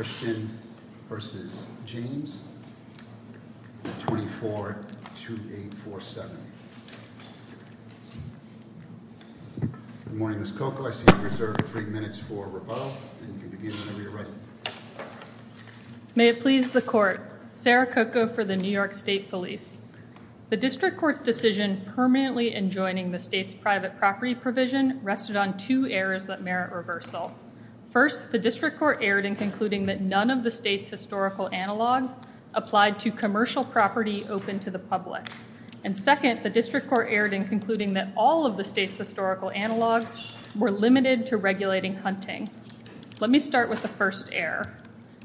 May it please the court, Sarah Coco for the New York State Police. The District Court's decision permanently enjoining the state's private property provision rested on two errors that merit reversal. First, the District Court erred in concluding that none of the state's historical analogs applied to commercial property open to the public. And second, the District Court erred in concluding that all of the state's historical analogs were limited to regulating hunting. Let me start with the first error.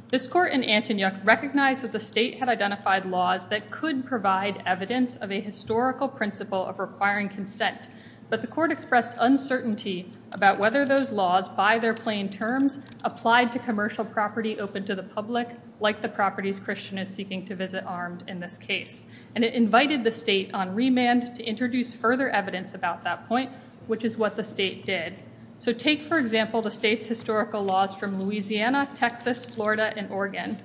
This court in Antonyuck recognized that the state had identified laws that could provide evidence of a historical principle of requiring consent, but the court expressed uncertainty about whether those laws, by their plain terms, applied to commercial property open to the public, like the properties Christian is seeking to visit armed in this case. And it invited the state on remand to introduce further evidence about that point, which is what the state did. So take, for example, the state's historical laws from Louisiana, Texas, Florida, and Oregon.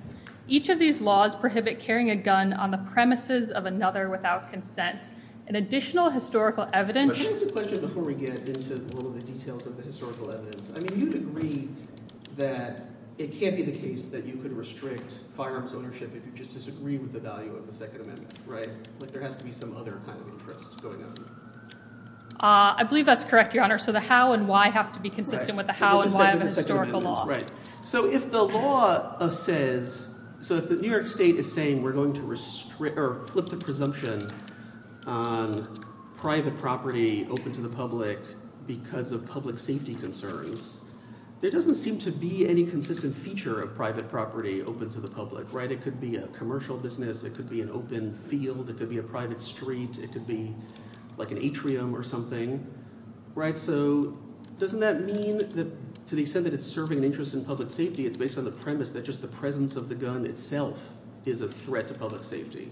Each of these laws prohibit carrying a gun on the premises of another without consent. In additional historical evidence- Can I ask a question before we get into all of the details of the historical evidence? I mean, you'd agree that it can't be the case that you could restrict firearms ownership if you just disagree with the value of the Second Amendment, right? Like, there has to be some other kind of interest going on. I believe that's correct, Your Honor. So the how and why have to be consistent with the how and why of a historical law. Right. So if the law says, so if the New York state is saying we're going to flip the presumption, on private property open to the public because of public safety concerns, there doesn't seem to be any consistent feature of private property open to the public, right? It could be a commercial business. It could be an open field. It could be a private street. It could be like an atrium or something, right? So doesn't that mean that to the extent that it's serving an interest in public safety, it's based on the premise that just the presence of the gun itself is a threat to public safety?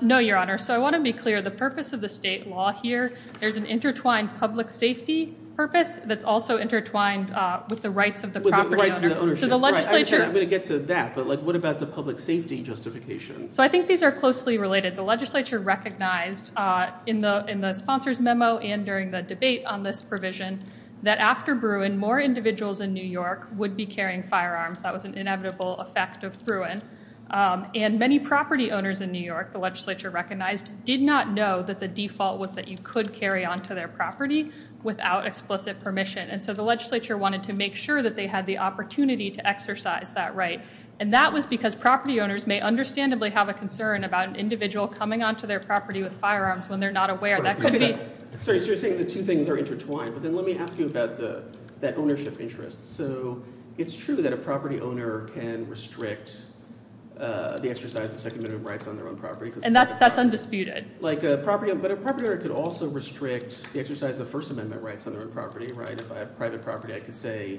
No, Your Honor. So I want to be clear. The purpose of the state law here, there's an intertwined public safety purpose that's also intertwined with the rights of the property owner. So the legislature... I'm going to get to that, but what about the public safety justification? So I think these are closely related. The legislature recognized in the sponsor's memo and during the debate on this provision that after Bruin, more individuals in New York would be carrying firearms. That was an inevitable effect of Bruin. And many property owners in New York, the legislature recognized, did not know that the default was that you could carry onto their property without explicit permission. And so the legislature wanted to make sure that they had the opportunity to exercise that right. And that was because property owners may understandably have a concern about an individual coming onto their property with firearms when they're not aware. That could be... Sorry, so you're saying the two things are intertwined. But then let me ask you about that ownership interest. So it's true that a property owner can restrict the exercise of Second Amendment rights on their own property. And that's undisputed. But a property owner could also restrict the exercise of First Amendment rights on their own property, right? If I have private property, I could say,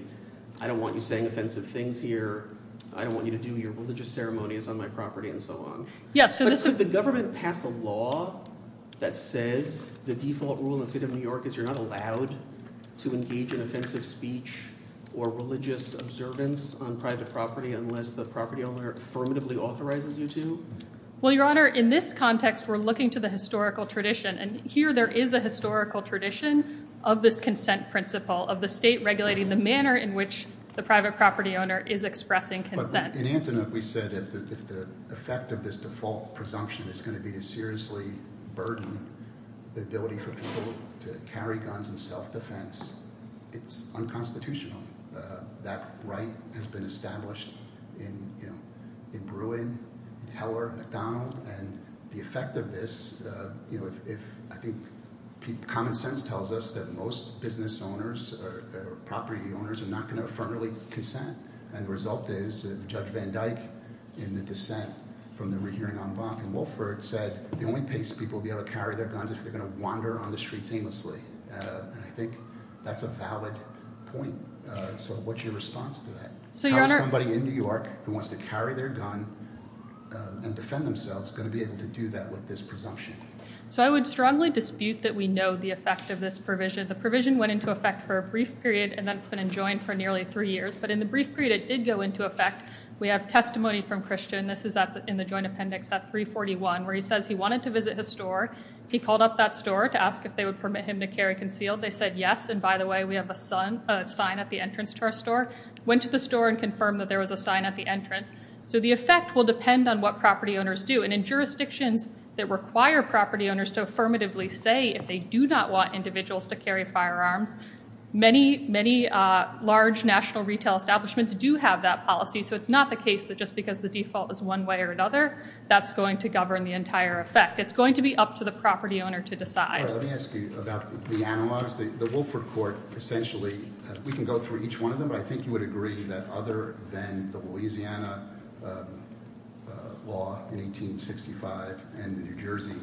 I don't want you saying offensive things here. I don't want you to do your religious ceremonies on my property and so on. Yeah, so this... But could the government pass a law that says the default rule in the state of New York is you're not allowed to engage in offensive speech or religious observance on private property unless the property owner affirmatively authorizes you to? Well, Your Honor, in this context, we're looking to the historical tradition. And here, there is a historical tradition of this consent principle of the state regulating the manner in which the private property owner is expressing consent. In Antoinette, we said if the effect of this default presumption is going to be to seriously burden the ability for people to carry guns and self-defense, it's unconstitutional. That right has been established in, you know, in Bruin, in Heller, McDonald. And the effect of this, you know, if... I think common sense tells us that most business owners or property owners are not going to affirmatively consent. And the result is Judge Van Dyke in the dissent from the re-hearing on Vaughn and Wolford said the only place people will be able to carry their guns is if they're going to wander on the streets aimlessly. And I think that's a valid point. So what's your response to that? How is somebody in New York who wants to carry their gun and defend themselves going to be able to do that with this presumption? So I would strongly dispute that we know the effect of this provision. The provision went into effect for a brief period and then it's been enjoined for nearly three years. But in the brief period, it did go into effect. We have testimony from Christian. This is in the joint appendix at 341, where he says he wanted to visit his store. He called up that store to ask if they would permit him to carry concealed. They said, yes. And by the way, we have a sign at the entrance to our store. Went to the store and confirmed that there was a sign at the entrance. So the effect will depend on what property owners do. And in jurisdictions that require property owners to affirmatively say if they do not want individuals to carry firearms, many, many large national retail establishments do have that policy. So it's not the case that just because the default is one way or another, that's going to govern the entire effect. It's going to be up to the property owner to decide. All right. Let me ask you about the analogs. The Wilford Court essentially, we can go through each one of them, but I think you would agree that other than the Louisiana law in 1865 and the New Jersey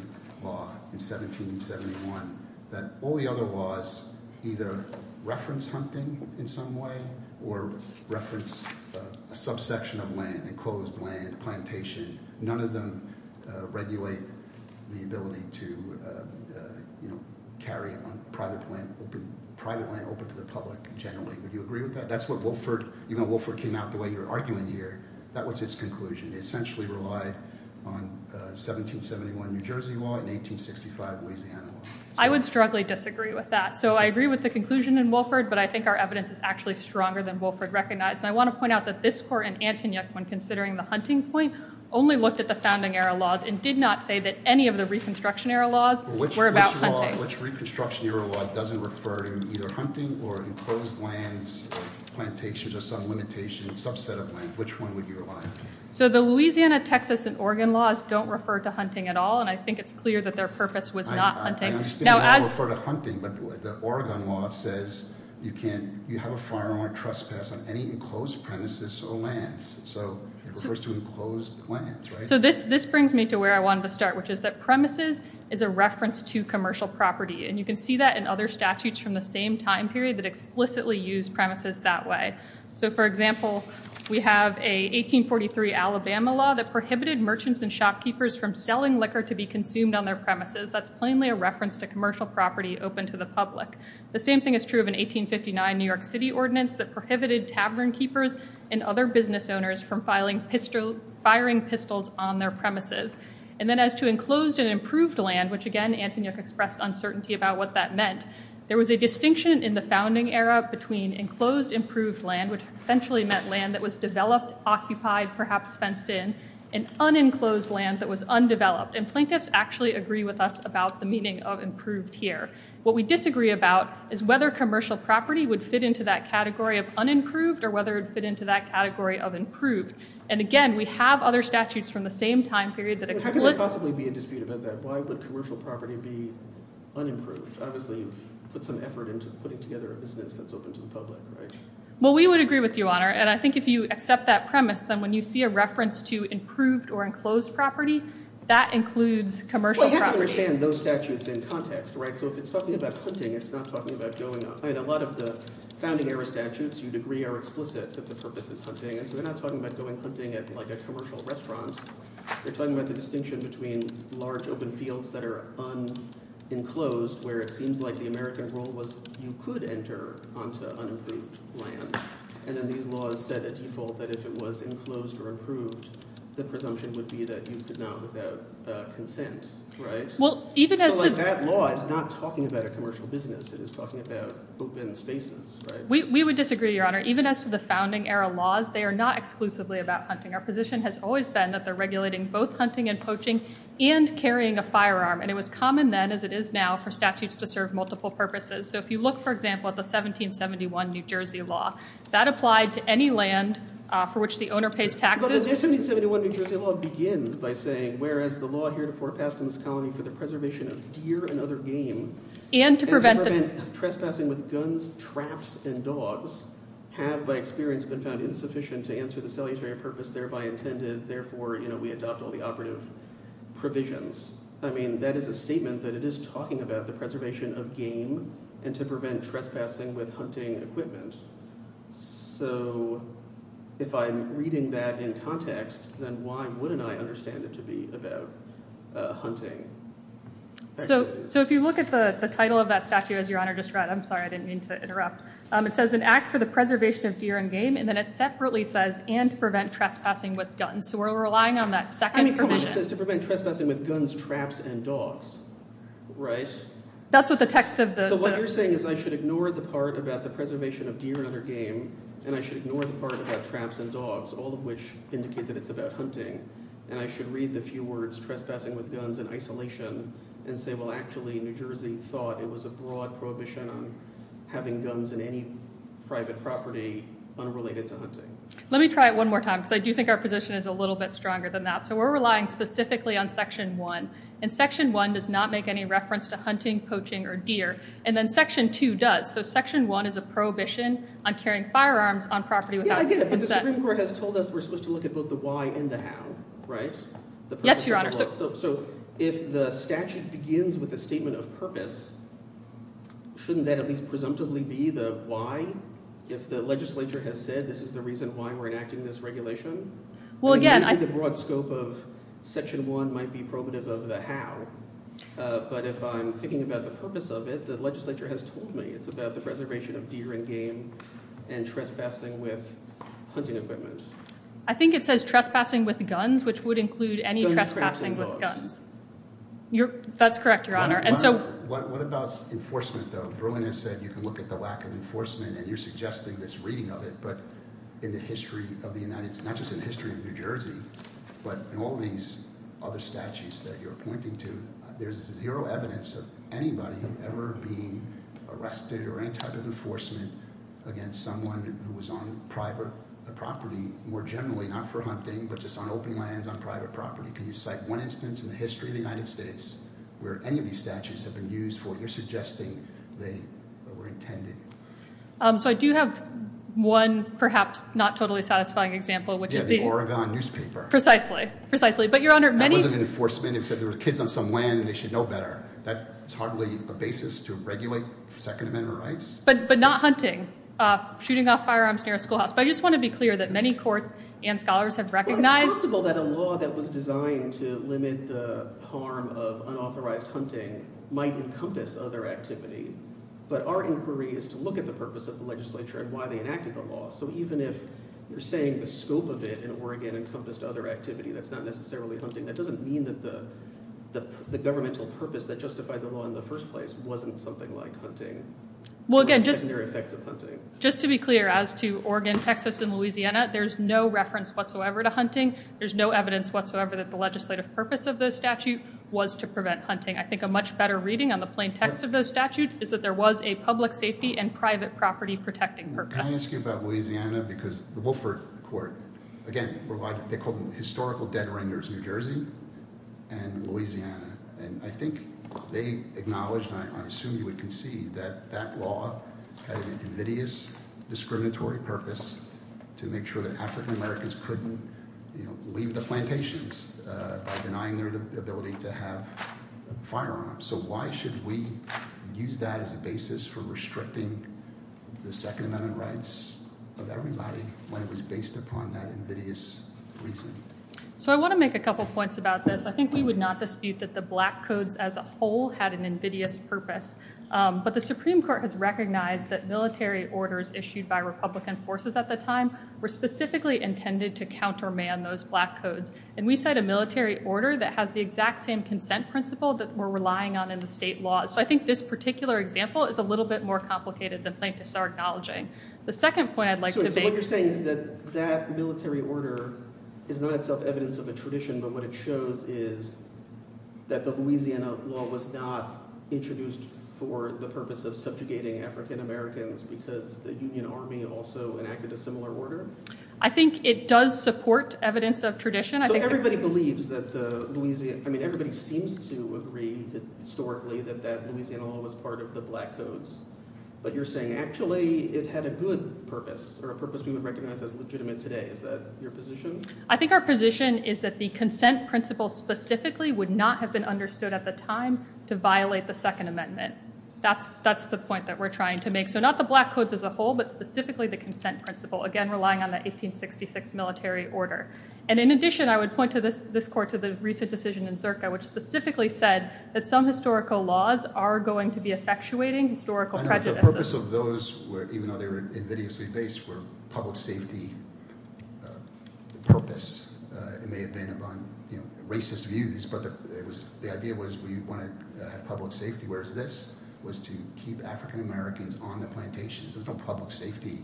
law in 1771, that all the other laws either reference hunting in some way or reference a subsection of land, enclosed land, plantation, none of them regulate the ability to carry private land open to the public generally. Would you agree with that? That's what Wilford, even though Wilford came out the way you're arguing here, that was its conclusion. It essentially relied on 1771 New Jersey law and 1865 Louisiana law. I would strongly disagree with that. So I agree with the conclusion in Wilford, but I think our evidence is actually stronger than Wilford recognized. And I want to point out that this court and Antony when considering the hunting point only looked at the Founding Era laws and did not say that any of the Reconstruction Era laws were about hunting. Which Reconstruction Era law doesn't refer to either hunting or enclosed lands, plantations or some limitation subset of land? Which one would you rely on? So the Louisiana, Texas and Oregon laws don't refer to hunting at all. And I think it's clear that their purpose was not hunting. I understand they don't refer to hunting, but the Oregon law says you can't, you have a firearm or trespass on any enclosed premises or lands. So it refers to enclosed lands, right? So this brings me to where I wanted to start, which is that premises is a reference to commercial property. And you can see that in other statutes from the same time period that explicitly use premises that way. So for example, we have a 1843 Alabama law that prohibited merchants and shopkeepers from selling liquor to be consumed on their premises. That's plainly a reference to commercial property open to the public. The same thing is true of an 1859 New York City ordinance that prohibited tavern keepers and other business owners from firing pistols on their premises. And then as to enclosed and improved land, which again, Antonia expressed uncertainty about what that meant. There was a distinction in the founding era between enclosed improved land, which essentially meant land that was developed, occupied, perhaps fenced in, and unenclosed land that was undeveloped. And plaintiffs actually agree with us about the meaning of improved here. What we disagree about is whether commercial property would fit into that category of unimproved or whether it would fit into that category of improved. And again, we have other statutes from the same time period that explicitly- There couldn't possibly be a dispute about that. Why would commercial property be unimproved? Obviously, you've put some effort into putting together a business that's open to the public, right? Well, we would agree with you, Honor. And I think if you accept that premise, then when you see a reference to improved or enclosed property, that includes commercial property. Well, you have to understand those statutes in context, right? So if it's talking about hunting, it's not talking about going on. A lot of the founding era statutes you'd agree are explicit that the purpose is hunting. And so they're not talking about going hunting at a commercial restaurant. They're talking about the distinction between large open fields that are unenclosed, where it seems like the American rule was you could enter onto unimproved land. And then these laws set a default that if it was enclosed or improved, the presumption would be that you could not without consent, right? Well, even as to- So that law is not talking about a commercial business. It is talking about open spaces, right? We would disagree, Your Honor. Even as to the founding era laws, they are not exclusively about hunting. Our position has always been that they're regulating both hunting and poaching and carrying a firearm. And it was common then, as it is now, for statutes to serve multiple purposes. So if you look, for example, at the 1771 New Jersey law, that applied to any land for which the owner pays taxes. But the 1771 New Jersey law begins by saying, whereas the law here to forecast in this colony for the preservation of deer and other game- And to prevent the- Trespassing with guns, traps, and dogs have, by experience, been found insufficient to answer the salutary purpose thereby intended. Therefore, you know, we adopt all the operative provisions. I mean, that is a statement that it is talking about the preservation of game and to prevent trespassing with hunting equipment. So if I'm reading that in context, then why wouldn't I understand it to be about hunting? So if you look at the title of that statute, as Your Honor just read, I'm sorry, I didn't mean to interrupt. It says, an act for the preservation of deer and game. And then it separately says, and to prevent trespassing with guns. So we're relying on that second provision. To prevent trespassing with guns, traps, and dogs, right? That's what the text of the- So what you're saying is I should ignore the part about the preservation of deer and other game. And I should ignore the part about traps and dogs, all of which indicate that it's about hunting. And I should read the few words trespassing with guns in isolation and say, well, actually, New Jersey thought it was a broad prohibition on having guns in any private property unrelated to hunting. Let me try it one more time. Because I do think our position is a little bit stronger than that. So we're relying specifically on Section 1. And Section 1 does not make any reference to hunting, poaching, or deer. And then Section 2 does. So Section 1 is a prohibition on carrying firearms on property without- Yeah, I get it, but the Supreme Court has told us we're supposed to look at both the why and the how, right? Yes, Your Honor. So if the statute begins with a statement of purpose, shouldn't that at least presumptively be the why? If the legislature has said this is the reason why we're enacting this regulation? Well, again- Maybe the broad scope of Section 1 might be probative of the how. But if I'm thinking about the purpose of it, the legislature has told me it's about the preservation of deer and game and trespassing with hunting equipment. I think it says trespassing with guns, which would include any trespassing with guns. That's correct, Your Honor. And so- What about enforcement, though? Bruin has said you can look at the lack of enforcement, and you're suggesting this reading of it. But in the history of the United States, not just in the history of New Jersey, but in all these other statutes that you're pointing to, there's zero evidence of anybody ever being arrested or any type of enforcement against someone who was on private property, more generally, not for hunting, but just on open lands, on private property. Can you cite one instance in the history of the United States where any of these statutes have been used for what you're suggesting they were intended? So I do have one perhaps not totally satisfying example, which is the- Yeah, the Oregon newspaper. Precisely, precisely. But, Your Honor, many- That wasn't enforcement. It said there were kids on some land, and they should know better. That's hardly a basis to regulate Second Amendment rights. But not hunting, shooting off firearms near a schoolhouse. I just want to be clear that many courts and scholars have recognized- Well, it's possible that a law that was designed to limit the harm of unauthorized hunting might encompass other activity. But our inquiry is to look at the purpose of the legislature and why they enacted the law. So even if you're saying the scope of it in Oregon encompassed other activity, that's not necessarily hunting, that doesn't mean that the governmental purpose that justified the law in the first place wasn't something like hunting or the secondary effects of hunting. Just to be clear, as to Oregon, Texas, and Louisiana, there's no reference whatsoever to hunting. There's no evidence whatsoever that the legislative purpose of the statute was to prevent hunting. I think a much better reading on the plain text of those statutes is that there was a public safety and private property protecting purpose. Can I ask you about Louisiana? Because the Wilford Court, again, they called them historical dead renders in New Jersey and Louisiana. And I think they acknowledged, and I assume you would concede, that that law had an invidious discriminatory purpose to make sure that African-Americans couldn't leave the plantations by denying their ability to have firearms. So why should we use that as a basis for restricting the Second Amendment rights of everybody when it was based upon that invidious reason? So I want to make a couple points about this. I think we would not dispute that the Black Codes as a whole had an invidious purpose. But the Supreme Court has recognized that military orders issued by Republican forces at the time were specifically intended to counterman those Black Codes. And we cite a military order that has the exact same consent principle that we're relying on in the state law. So I think this particular example is a little bit more complicated than plaintiffs are acknowledging. The second point I'd like to make- So what you're saying is that that military order is not itself evidence of a tradition, but what it shows is that the Louisiana law was not introduced for the purpose of subjugating African-Americans because the Union Army also enacted a similar order? I think it does support evidence of tradition. So everybody believes that the Louisiana- I mean, everybody seems to agree historically that that Louisiana law was part of the Black Codes. But you're saying, actually, it had a good purpose or a purpose we would recognize as legitimate today. Is that your position? I think our position is that the consent principle specifically would not have been understood at the time to violate the Second Amendment. That's the point that we're trying to make. So not the Black Codes as a whole, but specifically the consent principle, again, relying on the 1866 military order. And in addition, I would point to this court, to the recent decision in Zirka, which specifically said that some historical laws are going to be effectuating historical prejudices. I know, but the purpose of those, even though they were invidiously based, were public safety purpose. It may have been racist views, but the idea was we wanted to have public safety. Whereas this was to keep African-Americans on the plantations. There's no public safety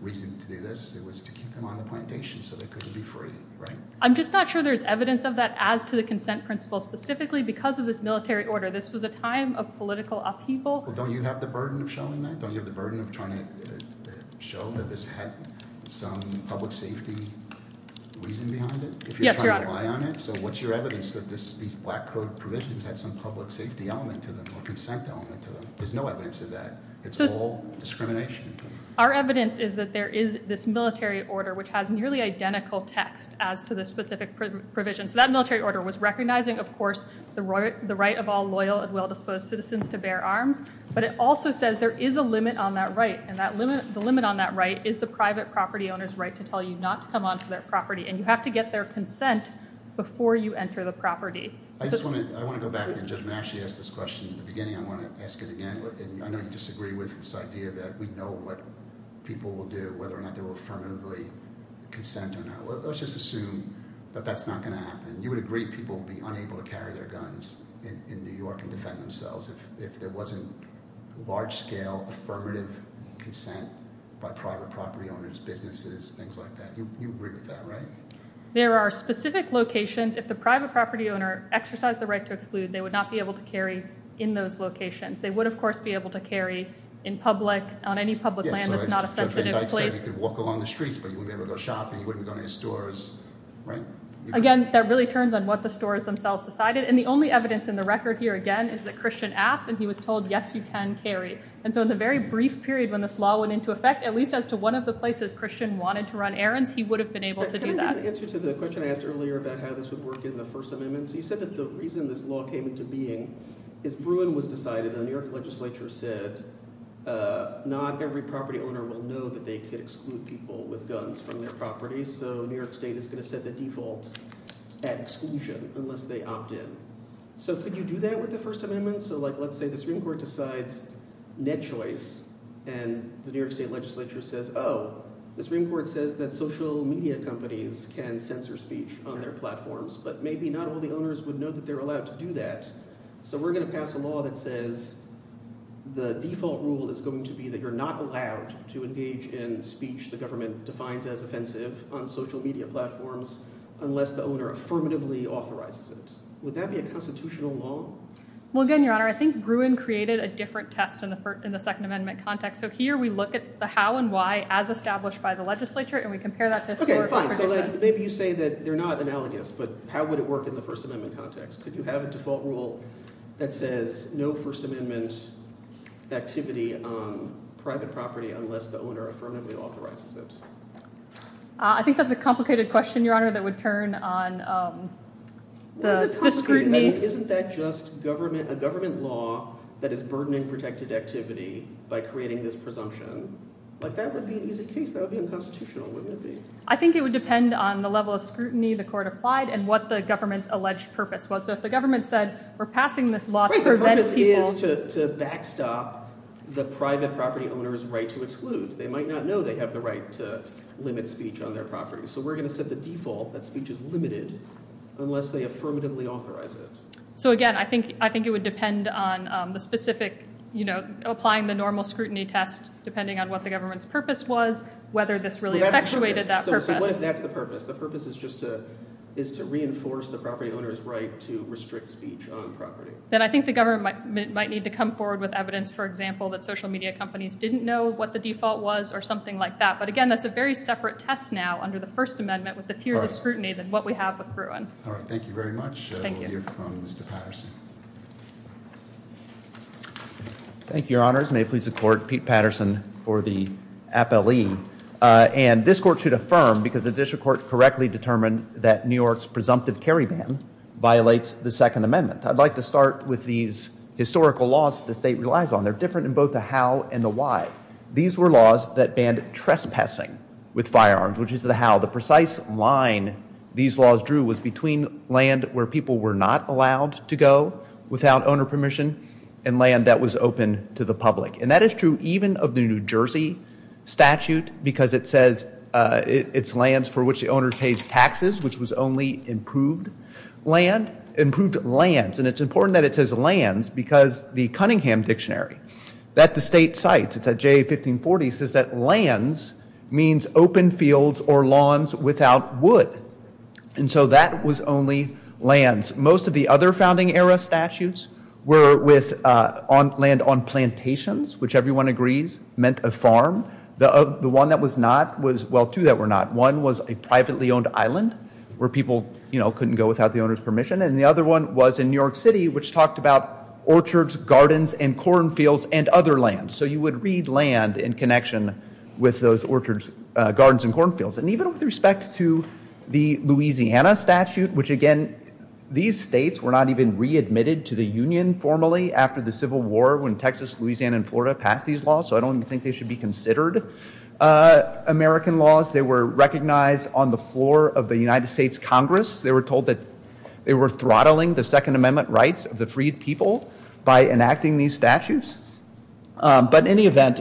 reason to do this. It was to keep them on the plantation so they couldn't be free, right? I'm just not sure there's evidence of that as to the consent principle specifically because of this military order. This was a time of political upheaval. Don't you have the burden of showing that? Don't you have the burden of trying to show that this had some public safety reason behind it? If you're trying to rely on it? So what's your evidence that these Black Code provisions had some public safety element to them or consent element to them? There's no evidence of that. It's all discrimination. Our evidence is that there is this military order, which has nearly identical text as to the specific provision. So that military order was recognizing, of course, the right of all loyal and well-disposed citizens to bear arms. But it also says there is a limit on that right. And the limit on that right is the private property owner's right to tell you not to come onto their property. And you have to get their consent before you enter the property. I just want to go back. And Judge, when Ashley asked this question at the beginning, I want to ask it again. I know you disagree with this idea that we know what people will do, whether or not they will affirmatively consent or not. Let's just assume that that's not going to happen. You would agree people would be unable to carry their guns in New York and defend themselves if there wasn't large-scale affirmative consent by private property owners, businesses, things like that. You agree with that, right? There are specific locations. If the private property owner exercised the right to exclude, they would not be able to carry in those locations. They would, of course, be able to carry in public, on any public land that's not a sensitive place. You could walk along the streets, but you wouldn't be able to go shopping. You wouldn't go into stores, right? Again, that really turns on what the stores themselves decided. And the only evidence in the record here, again, is that Christian asked. And he was told, yes, you can carry. And so in the very brief period when this law went into effect, at least as to one of the places Christian wanted to run errands, he would have been able to do that. Can I get an answer to the question I asked earlier about how this would work in the First Amendment? So you said that the reason this law came into being is Bruin was decided, and the New York legislature said, not every property owner will know that they could exclude people with guns from their property. So New York state is going to set the default at exclusion, unless they opt in. So could you do that with the First Amendment? So let's say the Supreme Court decides net choice, and the New York state legislature says, oh, the Supreme Court says that social media companies can censor speech on their platforms. But maybe not all the owners would know that they're allowed to do that. So we're going to pass a law that says the default rule is going to be that you're not allowed to engage in speech the government defines as offensive on social media platforms, unless the owner affirmatively authorizes it. Would that be a constitutional law? Well, again, Your Honor, I think Bruin created a different test in the Second Amendment context. So here, we look at the how and why, as established by the legislature, and we compare that to a store of information. Maybe you say that they're not analogous, but how would it work in the First Amendment context? Could you have a default rule that says no First Amendment activity on private property unless the owner affirmatively authorizes it? I think that's a complicated question, Your Honor, that would turn on the Supreme Court. Isn't that just a government law that is burdening protected activity by creating this presumption? That would be an easy case. That would be unconstitutional, wouldn't it be? I think it would depend on the level of scrutiny the court applied and what the government's alleged purpose was. So if the government said, we're passing this law to prevent people. Wait, the purpose is to backstop the private property owner's right to exclude. They might not know they have the right to limit speech on their property. So we're going to set the default that speech is limited unless they affirmatively authorize it. So again, I think it would depend on applying the normal scrutiny test depending on what the government's purpose was, whether this really effectuated that purpose. So what if that's the purpose? The purpose is just to reinforce the property owner's right to restrict speech on property. Then I think the government might need to come forward with evidence, for example, that social media companies didn't know what the default was or something like that. But again, that's a very separate test now under the First Amendment with the tiers of scrutiny than what we have with Bruin. All right. Thank you very much. Thank you. We'll hear from Mr. Patterson. Thank you, Your Honors. May it please the court, Pete Patterson for the appellee. And this court should affirm, because the district court correctly determined that New York's presumptive carry ban violates the Second Amendment. I'd like to start with these historical laws that the state relies on. They're different in both the how and the why. These were laws that banned trespassing with firearms, which is the how. The precise line these laws drew was between land where people were not allowed to go without owner permission and land that was open to the public. And that is true even of the New Jersey statute, because it says it's lands for which the owner pays taxes, which was only improved land. Improved lands. And it's important that it says lands, because the Cunningham Dictionary that the state means open fields or lawns without wood. And so that was only lands. Most of the other founding era statutes were with land on plantations, which everyone agrees meant a farm. The one that was not was, well, two that were not. One was a privately owned island where people, you know, couldn't go without the owner's permission. And the other one was in New York City, which talked about orchards, gardens, and corn fields and other lands. So you would read land in connection with those orchards, gardens, and corn fields. And even with respect to the Louisiana statute, which again, these states were not even readmitted to the Union formally after the Civil War when Texas, Louisiana, and Florida passed these laws. So I don't think they should be considered American laws. They were recognized on the floor of the United States Congress. They were told that they were throttling the Second Amendment rights of the freed people by enacting these statutes. But in any event,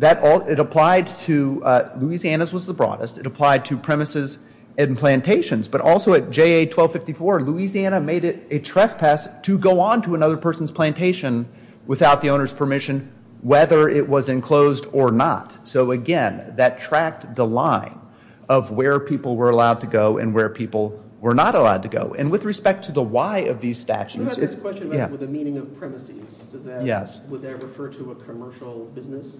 it applied to, Louisiana's was the broadest. It applied to premises and plantations. But also at JA 1254, Louisiana made it a trespass to go on to another person's plantation without the owner's permission, whether it was enclosed or not. So again, that tracked the line of where people were allowed to go and where people were not allowed to go. And with respect to the why of these statutes, it's, yeah. You had this question about the meaning of premises. Yes. Would that refer to a commercial business?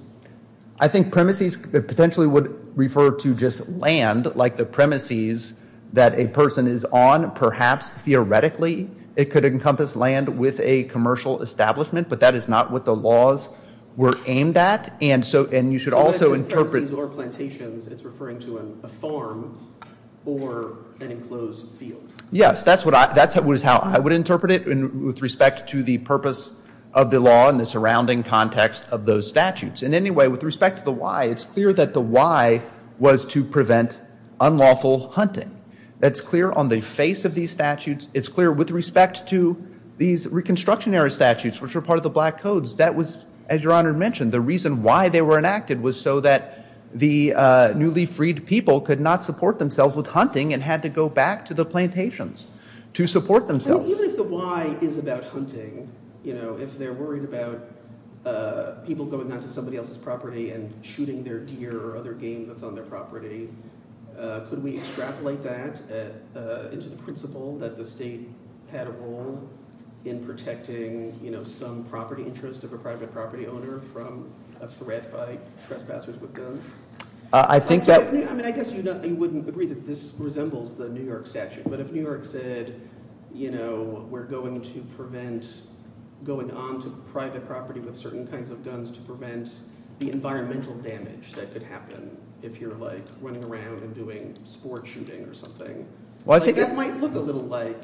I think premises potentially would refer to just land, like the premises that a person is on. Perhaps theoretically, it could encompass land with a commercial establishment. But that is not what the laws were aimed at. And so, and you should also interpret. So when it's in premises or plantations, it's referring to a farm or an enclosed field. Yes, that's how I would interpret it with respect to the purpose of the law and the surrounding context of those statutes. In any way, with respect to the why, it's clear that the why was to prevent unlawful hunting. That's clear on the face of these statutes. It's clear with respect to these Reconstruction era statutes, which were part of the Black Codes. As Your Honor mentioned, the reason why they were enacted was so that the newly freed people could not support themselves with hunting and had to go back to the plantations to support themselves. Even if the why is about hunting, if they're worried about people going on to somebody else's property and shooting their deer or other game that's on their property, could we extrapolate that into the principle that the state had a role in protecting some property interest of a private property owner from a threat by trespassers with guns? I think that. I mean, I guess you wouldn't agree that this resembles the New York statute. But if New York said, we're going to prevent going onto private property with certain kinds of guns to prevent the environmental damage that could happen if you're running around and doing sport shooting or something, that might look a little like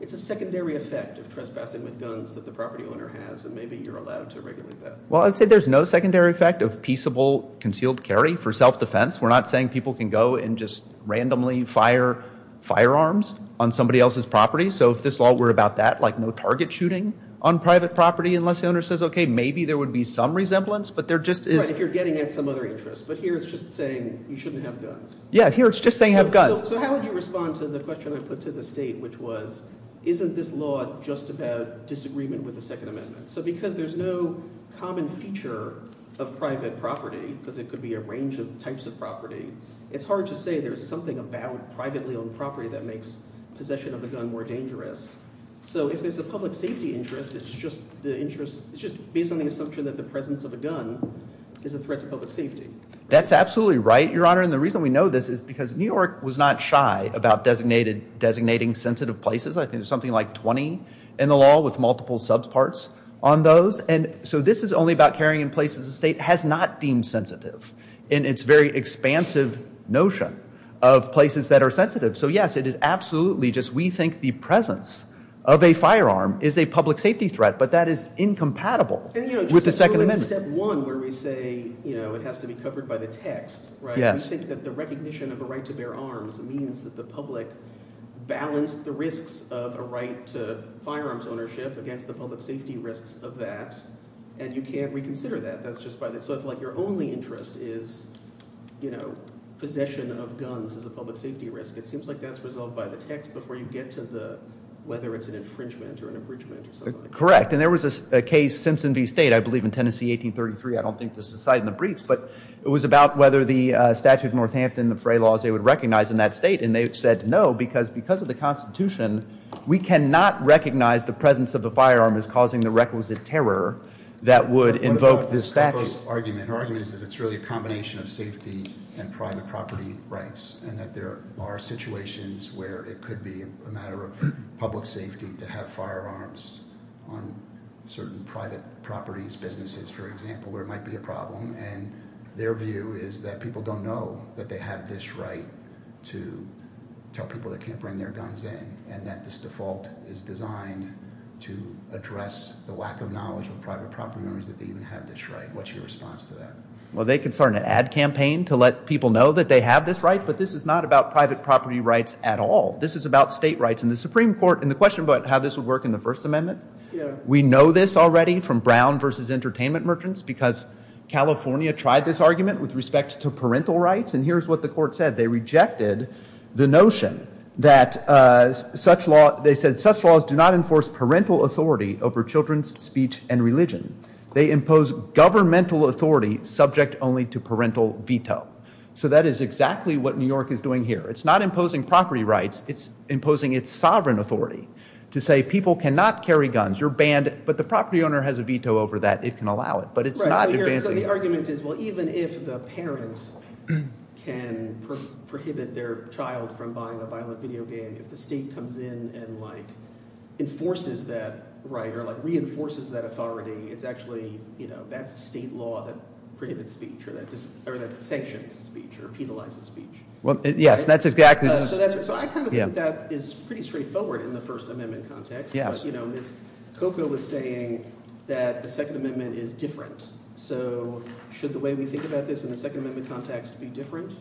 it's a secondary effect of trespassing with guns that the property owner has. And maybe you're allowed to regulate that. Well, I'd say there's no secondary effect of peaceable concealed carry for self-defense. We're not saying people can go and just randomly fire firearms on somebody else's property. So if this law were about that, like no target shooting on private property unless the owner says, OK, maybe there would be some resemblance. But there just is. Right, if you're getting at some other interest. But here it's just saying you shouldn't have guns. Yeah, here it's just saying have guns. So how would you respond to the question I put to the state, which was, isn't this law just about disagreement with the Second Amendment? So because there's no common feature of private property, because it could be a range of types of property, it's hard to say there's something about privately owned property that makes possession of a gun more dangerous. So if there's a public safety interest, it's just based on the assumption that the presence of a gun is a threat to public safety. That's absolutely right, Your Honor. And the reason we know this is because New York was not shy about designating sensitive places. I think there's something like 20 in the law with multiple subparts on those. And so this is only about carrying in places the state has not deemed sensitive in its very expansive notion of places that are sensitive. So yes, it is absolutely just we think the presence of a firearm is a public safety threat. But that is incompatible with the Second Amendment. And just to go to step one, where we say it has to be covered by the text, we think that the recognition of a right to bear arms means that the public balanced the risks of a right to firearms ownership against the public safety risks of that. And you can't reconsider that. So if your only interest is possession of guns as a public safety risk, it seems like that's resolved by the text before you get to whether it's an infringement or an abridgment or something like that. Correct. And there was a case, Simpson v. State, I believe in Tennessee, 1833. I don't think this is cited in the briefs. But it was about whether the statute of Northampton, the fray laws, they would recognize in that state. And they said no, because because of the Constitution, we cannot recognize the presence of a firearm as causing the requisite terror that would invoke this statute. But what about Kucko's argument? Her argument is that it's really a combination of safety and private property rights, and that there are situations where it could be a matter of public safety to have firearms on certain private properties, businesses, for example, where it might be a problem. And their view is that people don't know that they have this right to tell people that can't bring their guns in, and that this default is designed to address the lack of knowledge of private property owners that they even have this right. What's your response to that? Well, they could start an ad campaign to let people know that they have this right. But this is not about private property rights at all. This is about state rights. And the Supreme Court, in the question about how this would work in the First Amendment, we know this already from Brown versus Entertainment Merchants, because California tried this argument with respect to parental rights. And here's what the court said. They rejected the notion that such laws do not enforce parental authority over children's speech and religion. They impose governmental authority subject only to parental veto. So that is exactly what New York is doing here. It's not imposing property rights. It's imposing its sovereign authority to say people cannot carry guns. You're banned. But the property owner has a veto over that. It can allow it. But it's not advancing it. So the argument is, well, even if the parents can prohibit their child from buying a violent video game, if the state comes in and enforces that right or reinforces that authority, it's actually that's a state law that prohibits speech or that sanctions speech or penalizes speech. Well, yes, that's exactly. So I kind of think that is pretty straightforward in the First Amendment context. Yes. But Ms. Coco was saying that the Second Amendment is different. So should the way we think about this in the Second Amendment context be different?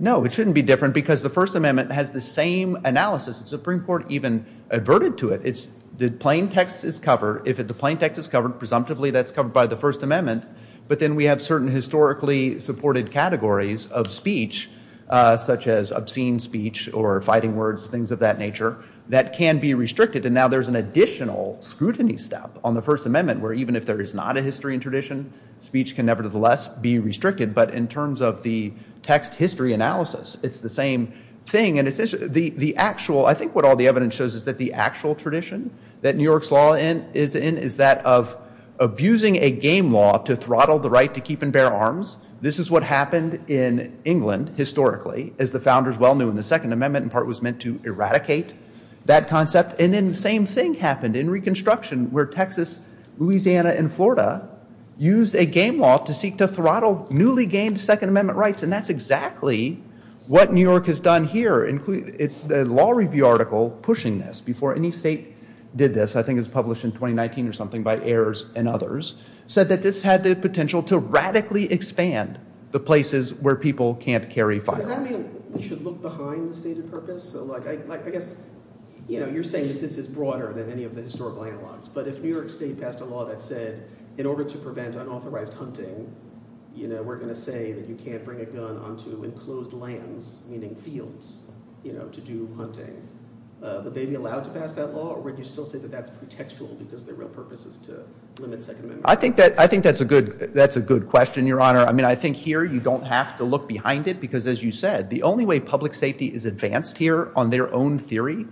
No, it shouldn't be different, because the First Amendment has the same analysis. The Supreme Court even adverted to it. The plain text is covered. If the plain text is covered, presumptively, that's covered by the First Amendment. But then we have certain historically supported categories of speech, such as obscene speech or fighting words, things of that nature, that can be restricted. And now there's an additional scrutiny step on the First Amendment, where even if there is not a history and tradition, speech can nevertheless be restricted. But in terms of the text history analysis, it's the same thing. And I think what all the evidence shows is that the actual tradition that New York's law is in is that of abusing a game law to throttle the right to keep and bear arms. This is what happened in England, historically, as the founders well knew in the Second Amendment. In part, it was meant to eradicate that concept. And then the same thing happened in Reconstruction, where Texas, Louisiana, and Florida used a game law to seek to throttle newly gained Second Amendment rights. And that's exactly what New York has done here, the law review article pushing this, before any state did this, I think it was published in 2019 or something, by Ayers and others, said that this had the potential to radically expand the places where people can't carry firearms. So does that mean we should look behind the stated purpose? So I guess you're saying that this is broader than any of the historical analogs. But if New York State passed a law that said, in order to prevent unauthorized hunting, we're going to say that you can't bring a gun onto enclosed lands, meaning fields, to do hunting, would they be allowed to pass that law? Or would you still say that that's pretextual, because their real purpose is to limit Second Amendment rights? I think that's a good question, Your Honor. I mean, I think here, you don't have to look behind it. Because as you said, the only way public safety is advanced here, on their own theory,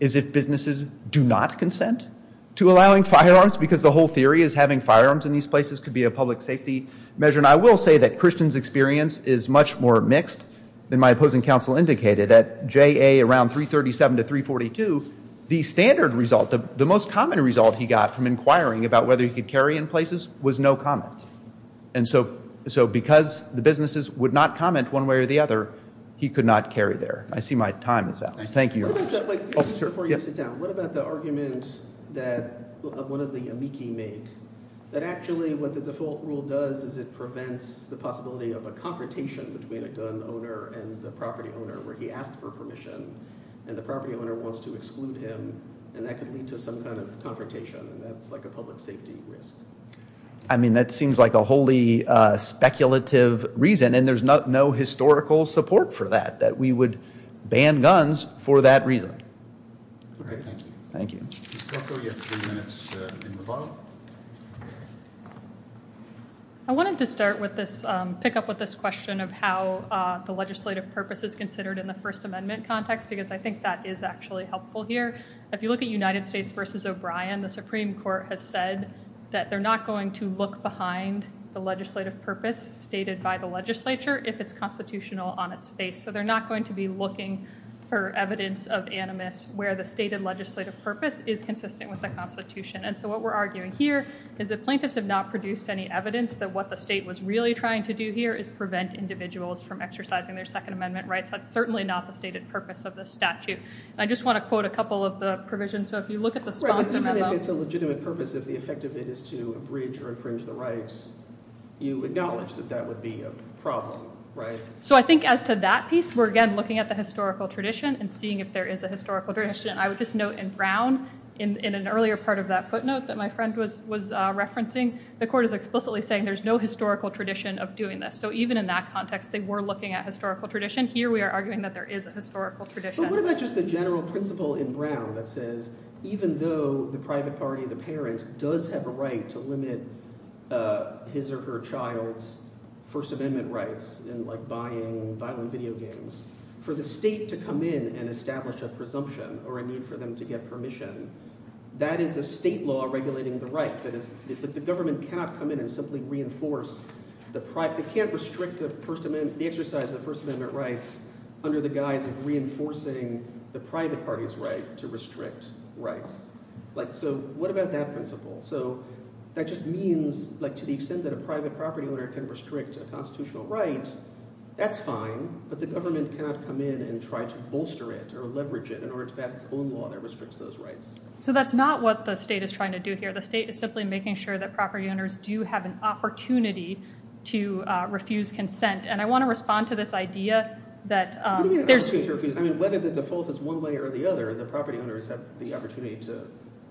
is if businesses do not consent to allowing firearms. Because the whole theory is having firearms in these places could be a public safety measure. And I will say that Christian's experience is much more mixed than my opposing counsel indicated. At JA, around 337 to 342, the standard result, the most common result he got from inquiring about whether he could carry in places, was no comment. And so because the businesses would not comment one way or the other, he could not carry there. I see my time is up. Thank you, Your Honor. Oh, sure. Before you sit down, what about the argument that one of the amici made, that actually what the default rule does is it prevents the possibility of a confrontation between a gun owner and the property owner, where he asked for permission. And the property owner wants to exclude him. And that could lead to some kind of confrontation. And that's like a public safety risk. I mean, that seems like a wholly speculative reason. And there's no historical support for that, that we would ban guns for that reason. All right. Thank you. Thank you. Ms. Kalko, you have three minutes in the bottom. I wanted to start with this, pick up with this question of how the legislative purpose is considered in the First Amendment context, because I think that is actually helpful here. If you look at United States versus O'Brien, the Supreme Court has said that they're not going to look behind the legislative purpose stated by the legislature if it's constitutional on its face. So they're not going to be looking for evidence of animus where the stated legislative purpose is consistent with the Constitution. And so what we're arguing here is that plaintiffs have not produced any evidence that what the state was really trying to do here is prevent individuals from exercising their Second Amendment rights. That's certainly not the stated purpose of the statute. I just want to quote a couple of the provisions. So if you look at the sponsor memo. If it's a legitimate purpose, if the effect of it is to abridge or infringe the rights, you acknowledge that that would be a problem, right? So I think as to that piece, we're again looking at the historical tradition and seeing if there is a historical tradition. I would just note in brown, in an earlier part of that footnote that my friend was referencing, the court is explicitly saying there's no historical tradition of doing this. So even in that context, they were looking at historical tradition. Here we are arguing that there is a historical tradition. But what about just the general principle in brown that says even though the private party, the parent, does have a right to limit his or her child's First Amendment rights in buying violent video games, for the state to come in and establish a presumption or a need for them to get permission, that is a state law regulating the right. That is, the government cannot come in and simply reinforce the private. They can't restrict the exercise of the First Amendment rights under the guise of reinforcing the private party's right to restrict rights. So what about that principle? So that just means to the extent that a private property owner can restrict a constitutional right, that's fine, but the government cannot come in and try to bolster it or leverage it in order to pass its own law that restricts those rights. So that's not what the state is trying to do here. The state is simply making sure that property owners do have an opportunity to refuse consent. And I want to respond to this idea that there's I mean, whether the default is one way or the other, the property owners have the opportunity to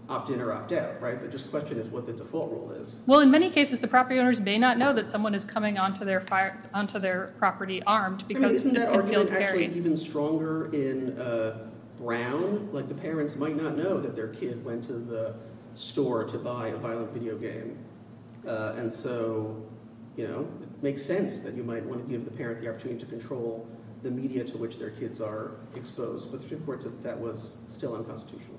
opt in or opt out, right? The question is what the default rule is. Well, in many cases, the property owners may not know that someone is coming onto their property armed because it's concealed carry. Even stronger in Brown, the parents might not know that their kid went to the store to buy a violent video game. And so it makes sense that you might want to give the parent the opportunity to control the media to which their kids are exposed. But the Supreme Court said that was still unconstitutional.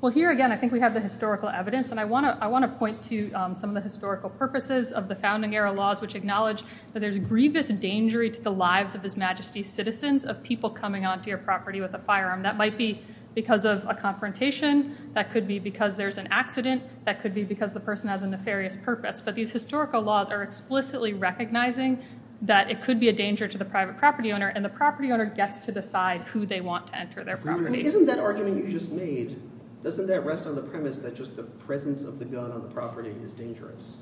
Well, here again, I think we have the historical evidence. And I want to point to some of the historical purposes of the founding era laws, which acknowledge that there's grievous danger to the lives of His Majesty's citizens of people coming onto your property with a firearm. That might be because of a confrontation. That could be because there's an accident. That could be because the person has a nefarious purpose. But these historical laws are explicitly recognizing that it could be a danger to the private property owner. And the property owner gets to decide who they want to enter their property. Isn't that argument you just made, doesn't that rest on the premise that just the presence of the gun on the property is dangerous?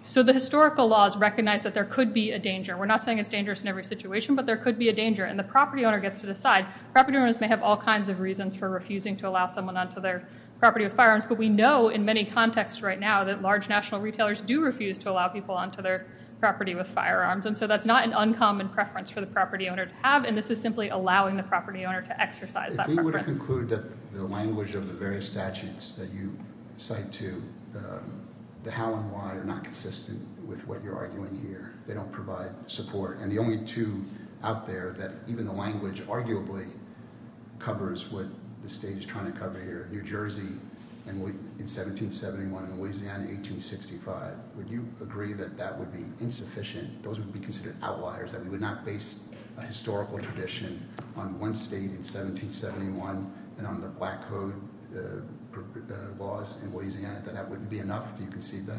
So the historical laws recognize that there could be a danger. We're not saying it's dangerous in every situation. But there could be a danger. And the property owner gets to decide. Property owners may have all kinds of reasons for refusing to allow someone onto their property with firearms. But we know in many contexts right now that large national retailers do refuse to allow people onto their property with firearms. And so that's not an uncommon preference for the property owner to have. And this is simply allowing the property owner to exercise that preference. If we would conclude that the language of the various statutes that you cite to, the how and why are not consistent with what you're arguing here. They don't provide support. And the only two out there that even the language arguably covers what the state is trying to cover here, New Jersey in 1771 and Louisiana in 1865, would you agree that that would be insufficient? Those would be considered outliers, that we would not base a historical tradition on one state in 1771 and on the Black Code laws in Louisiana, that that wouldn't be enough? Do you concede that?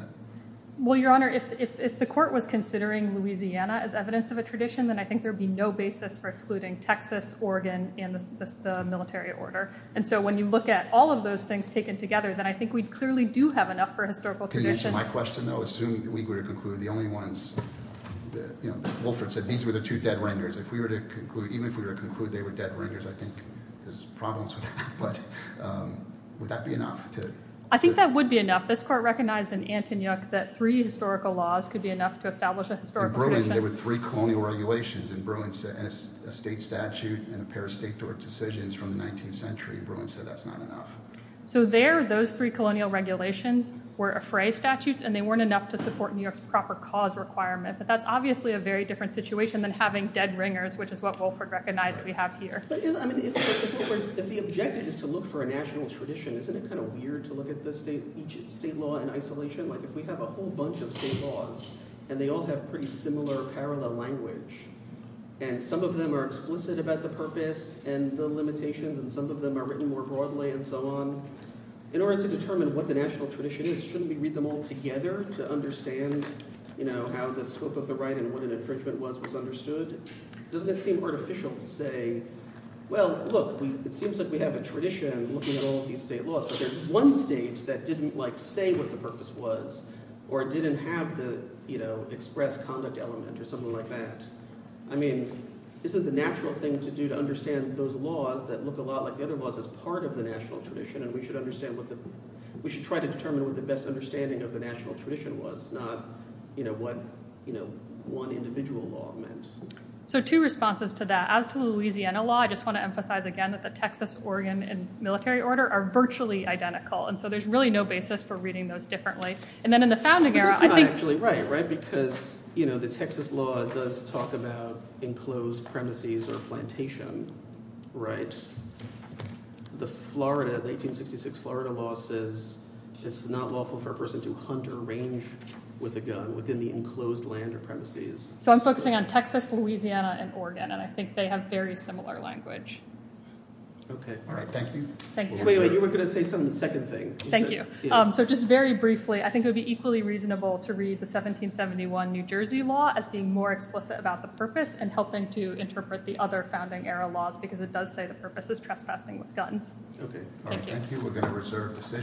Well, Your Honor, if the court was considering Louisiana as evidence of a tradition, then I think there would be no basis for excluding Texas, Oregon, and the military order. And so when you look at all of those things taken together, then I think we clearly do have enough for a historical tradition. Can you answer my question, though? Assuming we were to conclude the only ones, you know, Wilfred said these were the two dead renders. If we were to conclude, even if we were to conclude they were dead renders, I think there's problems with that. But would that be enough to? I think that would be enough. This court recognized in Antonyuk that three historical laws could be enough to establish a historical tradition. In Bruin, there were three colonial regulations in Bruin, and a state statute and a pair of state door decisions from the 19th century in Bruin said that's not enough. So there, those three colonial regulations were a fray of statutes, and they weren't enough to support New York's proper cause requirement. But that's obviously a very different situation than having dead ringers, which is what Wilfred recognized that we have here. But if the objective is to look for a national tradition, isn't it kind of weird to look at each state law in isolation? Like, if we have a whole bunch of state laws, and they all have pretty similar parallel language, and some of them are explicit about the purpose and the limitations, and some of them are written more broadly and so on, in order to determine what the national tradition is, shouldn't we read them all together to understand how the scope of the right and what an infringement was was understood? Doesn't it seem artificial to say, well, look, it seems like we have a tradition looking at all of these state laws. But there's one state that didn't, like, say what the purpose was, or it didn't have the express conduct element, or something like that. I mean, isn't the natural thing to do to understand those laws that look a lot like the other laws as part of the national tradition, and we should try to determine what the best understanding of the national tradition was, not what one individual law meant? So two responses to that. As to Louisiana law, I just want to emphasize, again, that the Texas, Oregon, and military order are virtually identical. And so there's really no basis for reading those differently. And then in the founding era, I think. But it's not actually right, right? Because the Texas law does talk about enclosed premises or plantation, right? The 1866 Florida law says it's not lawful for a person to hunt or range with a gun within the enclosed land or premises. So I'm focusing on Texas, Louisiana, and Oregon. And I think they have very similar language. OK. All right, thank you. Thank you. Wait, wait, you were going to say some second thing. Thank you. So just very briefly, I think it would be equally reasonable to read the 1771 New Jersey law as being more explicit about the purpose and helping to interpret the other founding era laws, because it does say the purpose is trespassing with guns. OK. All right, thank you. We're going to reserve the session.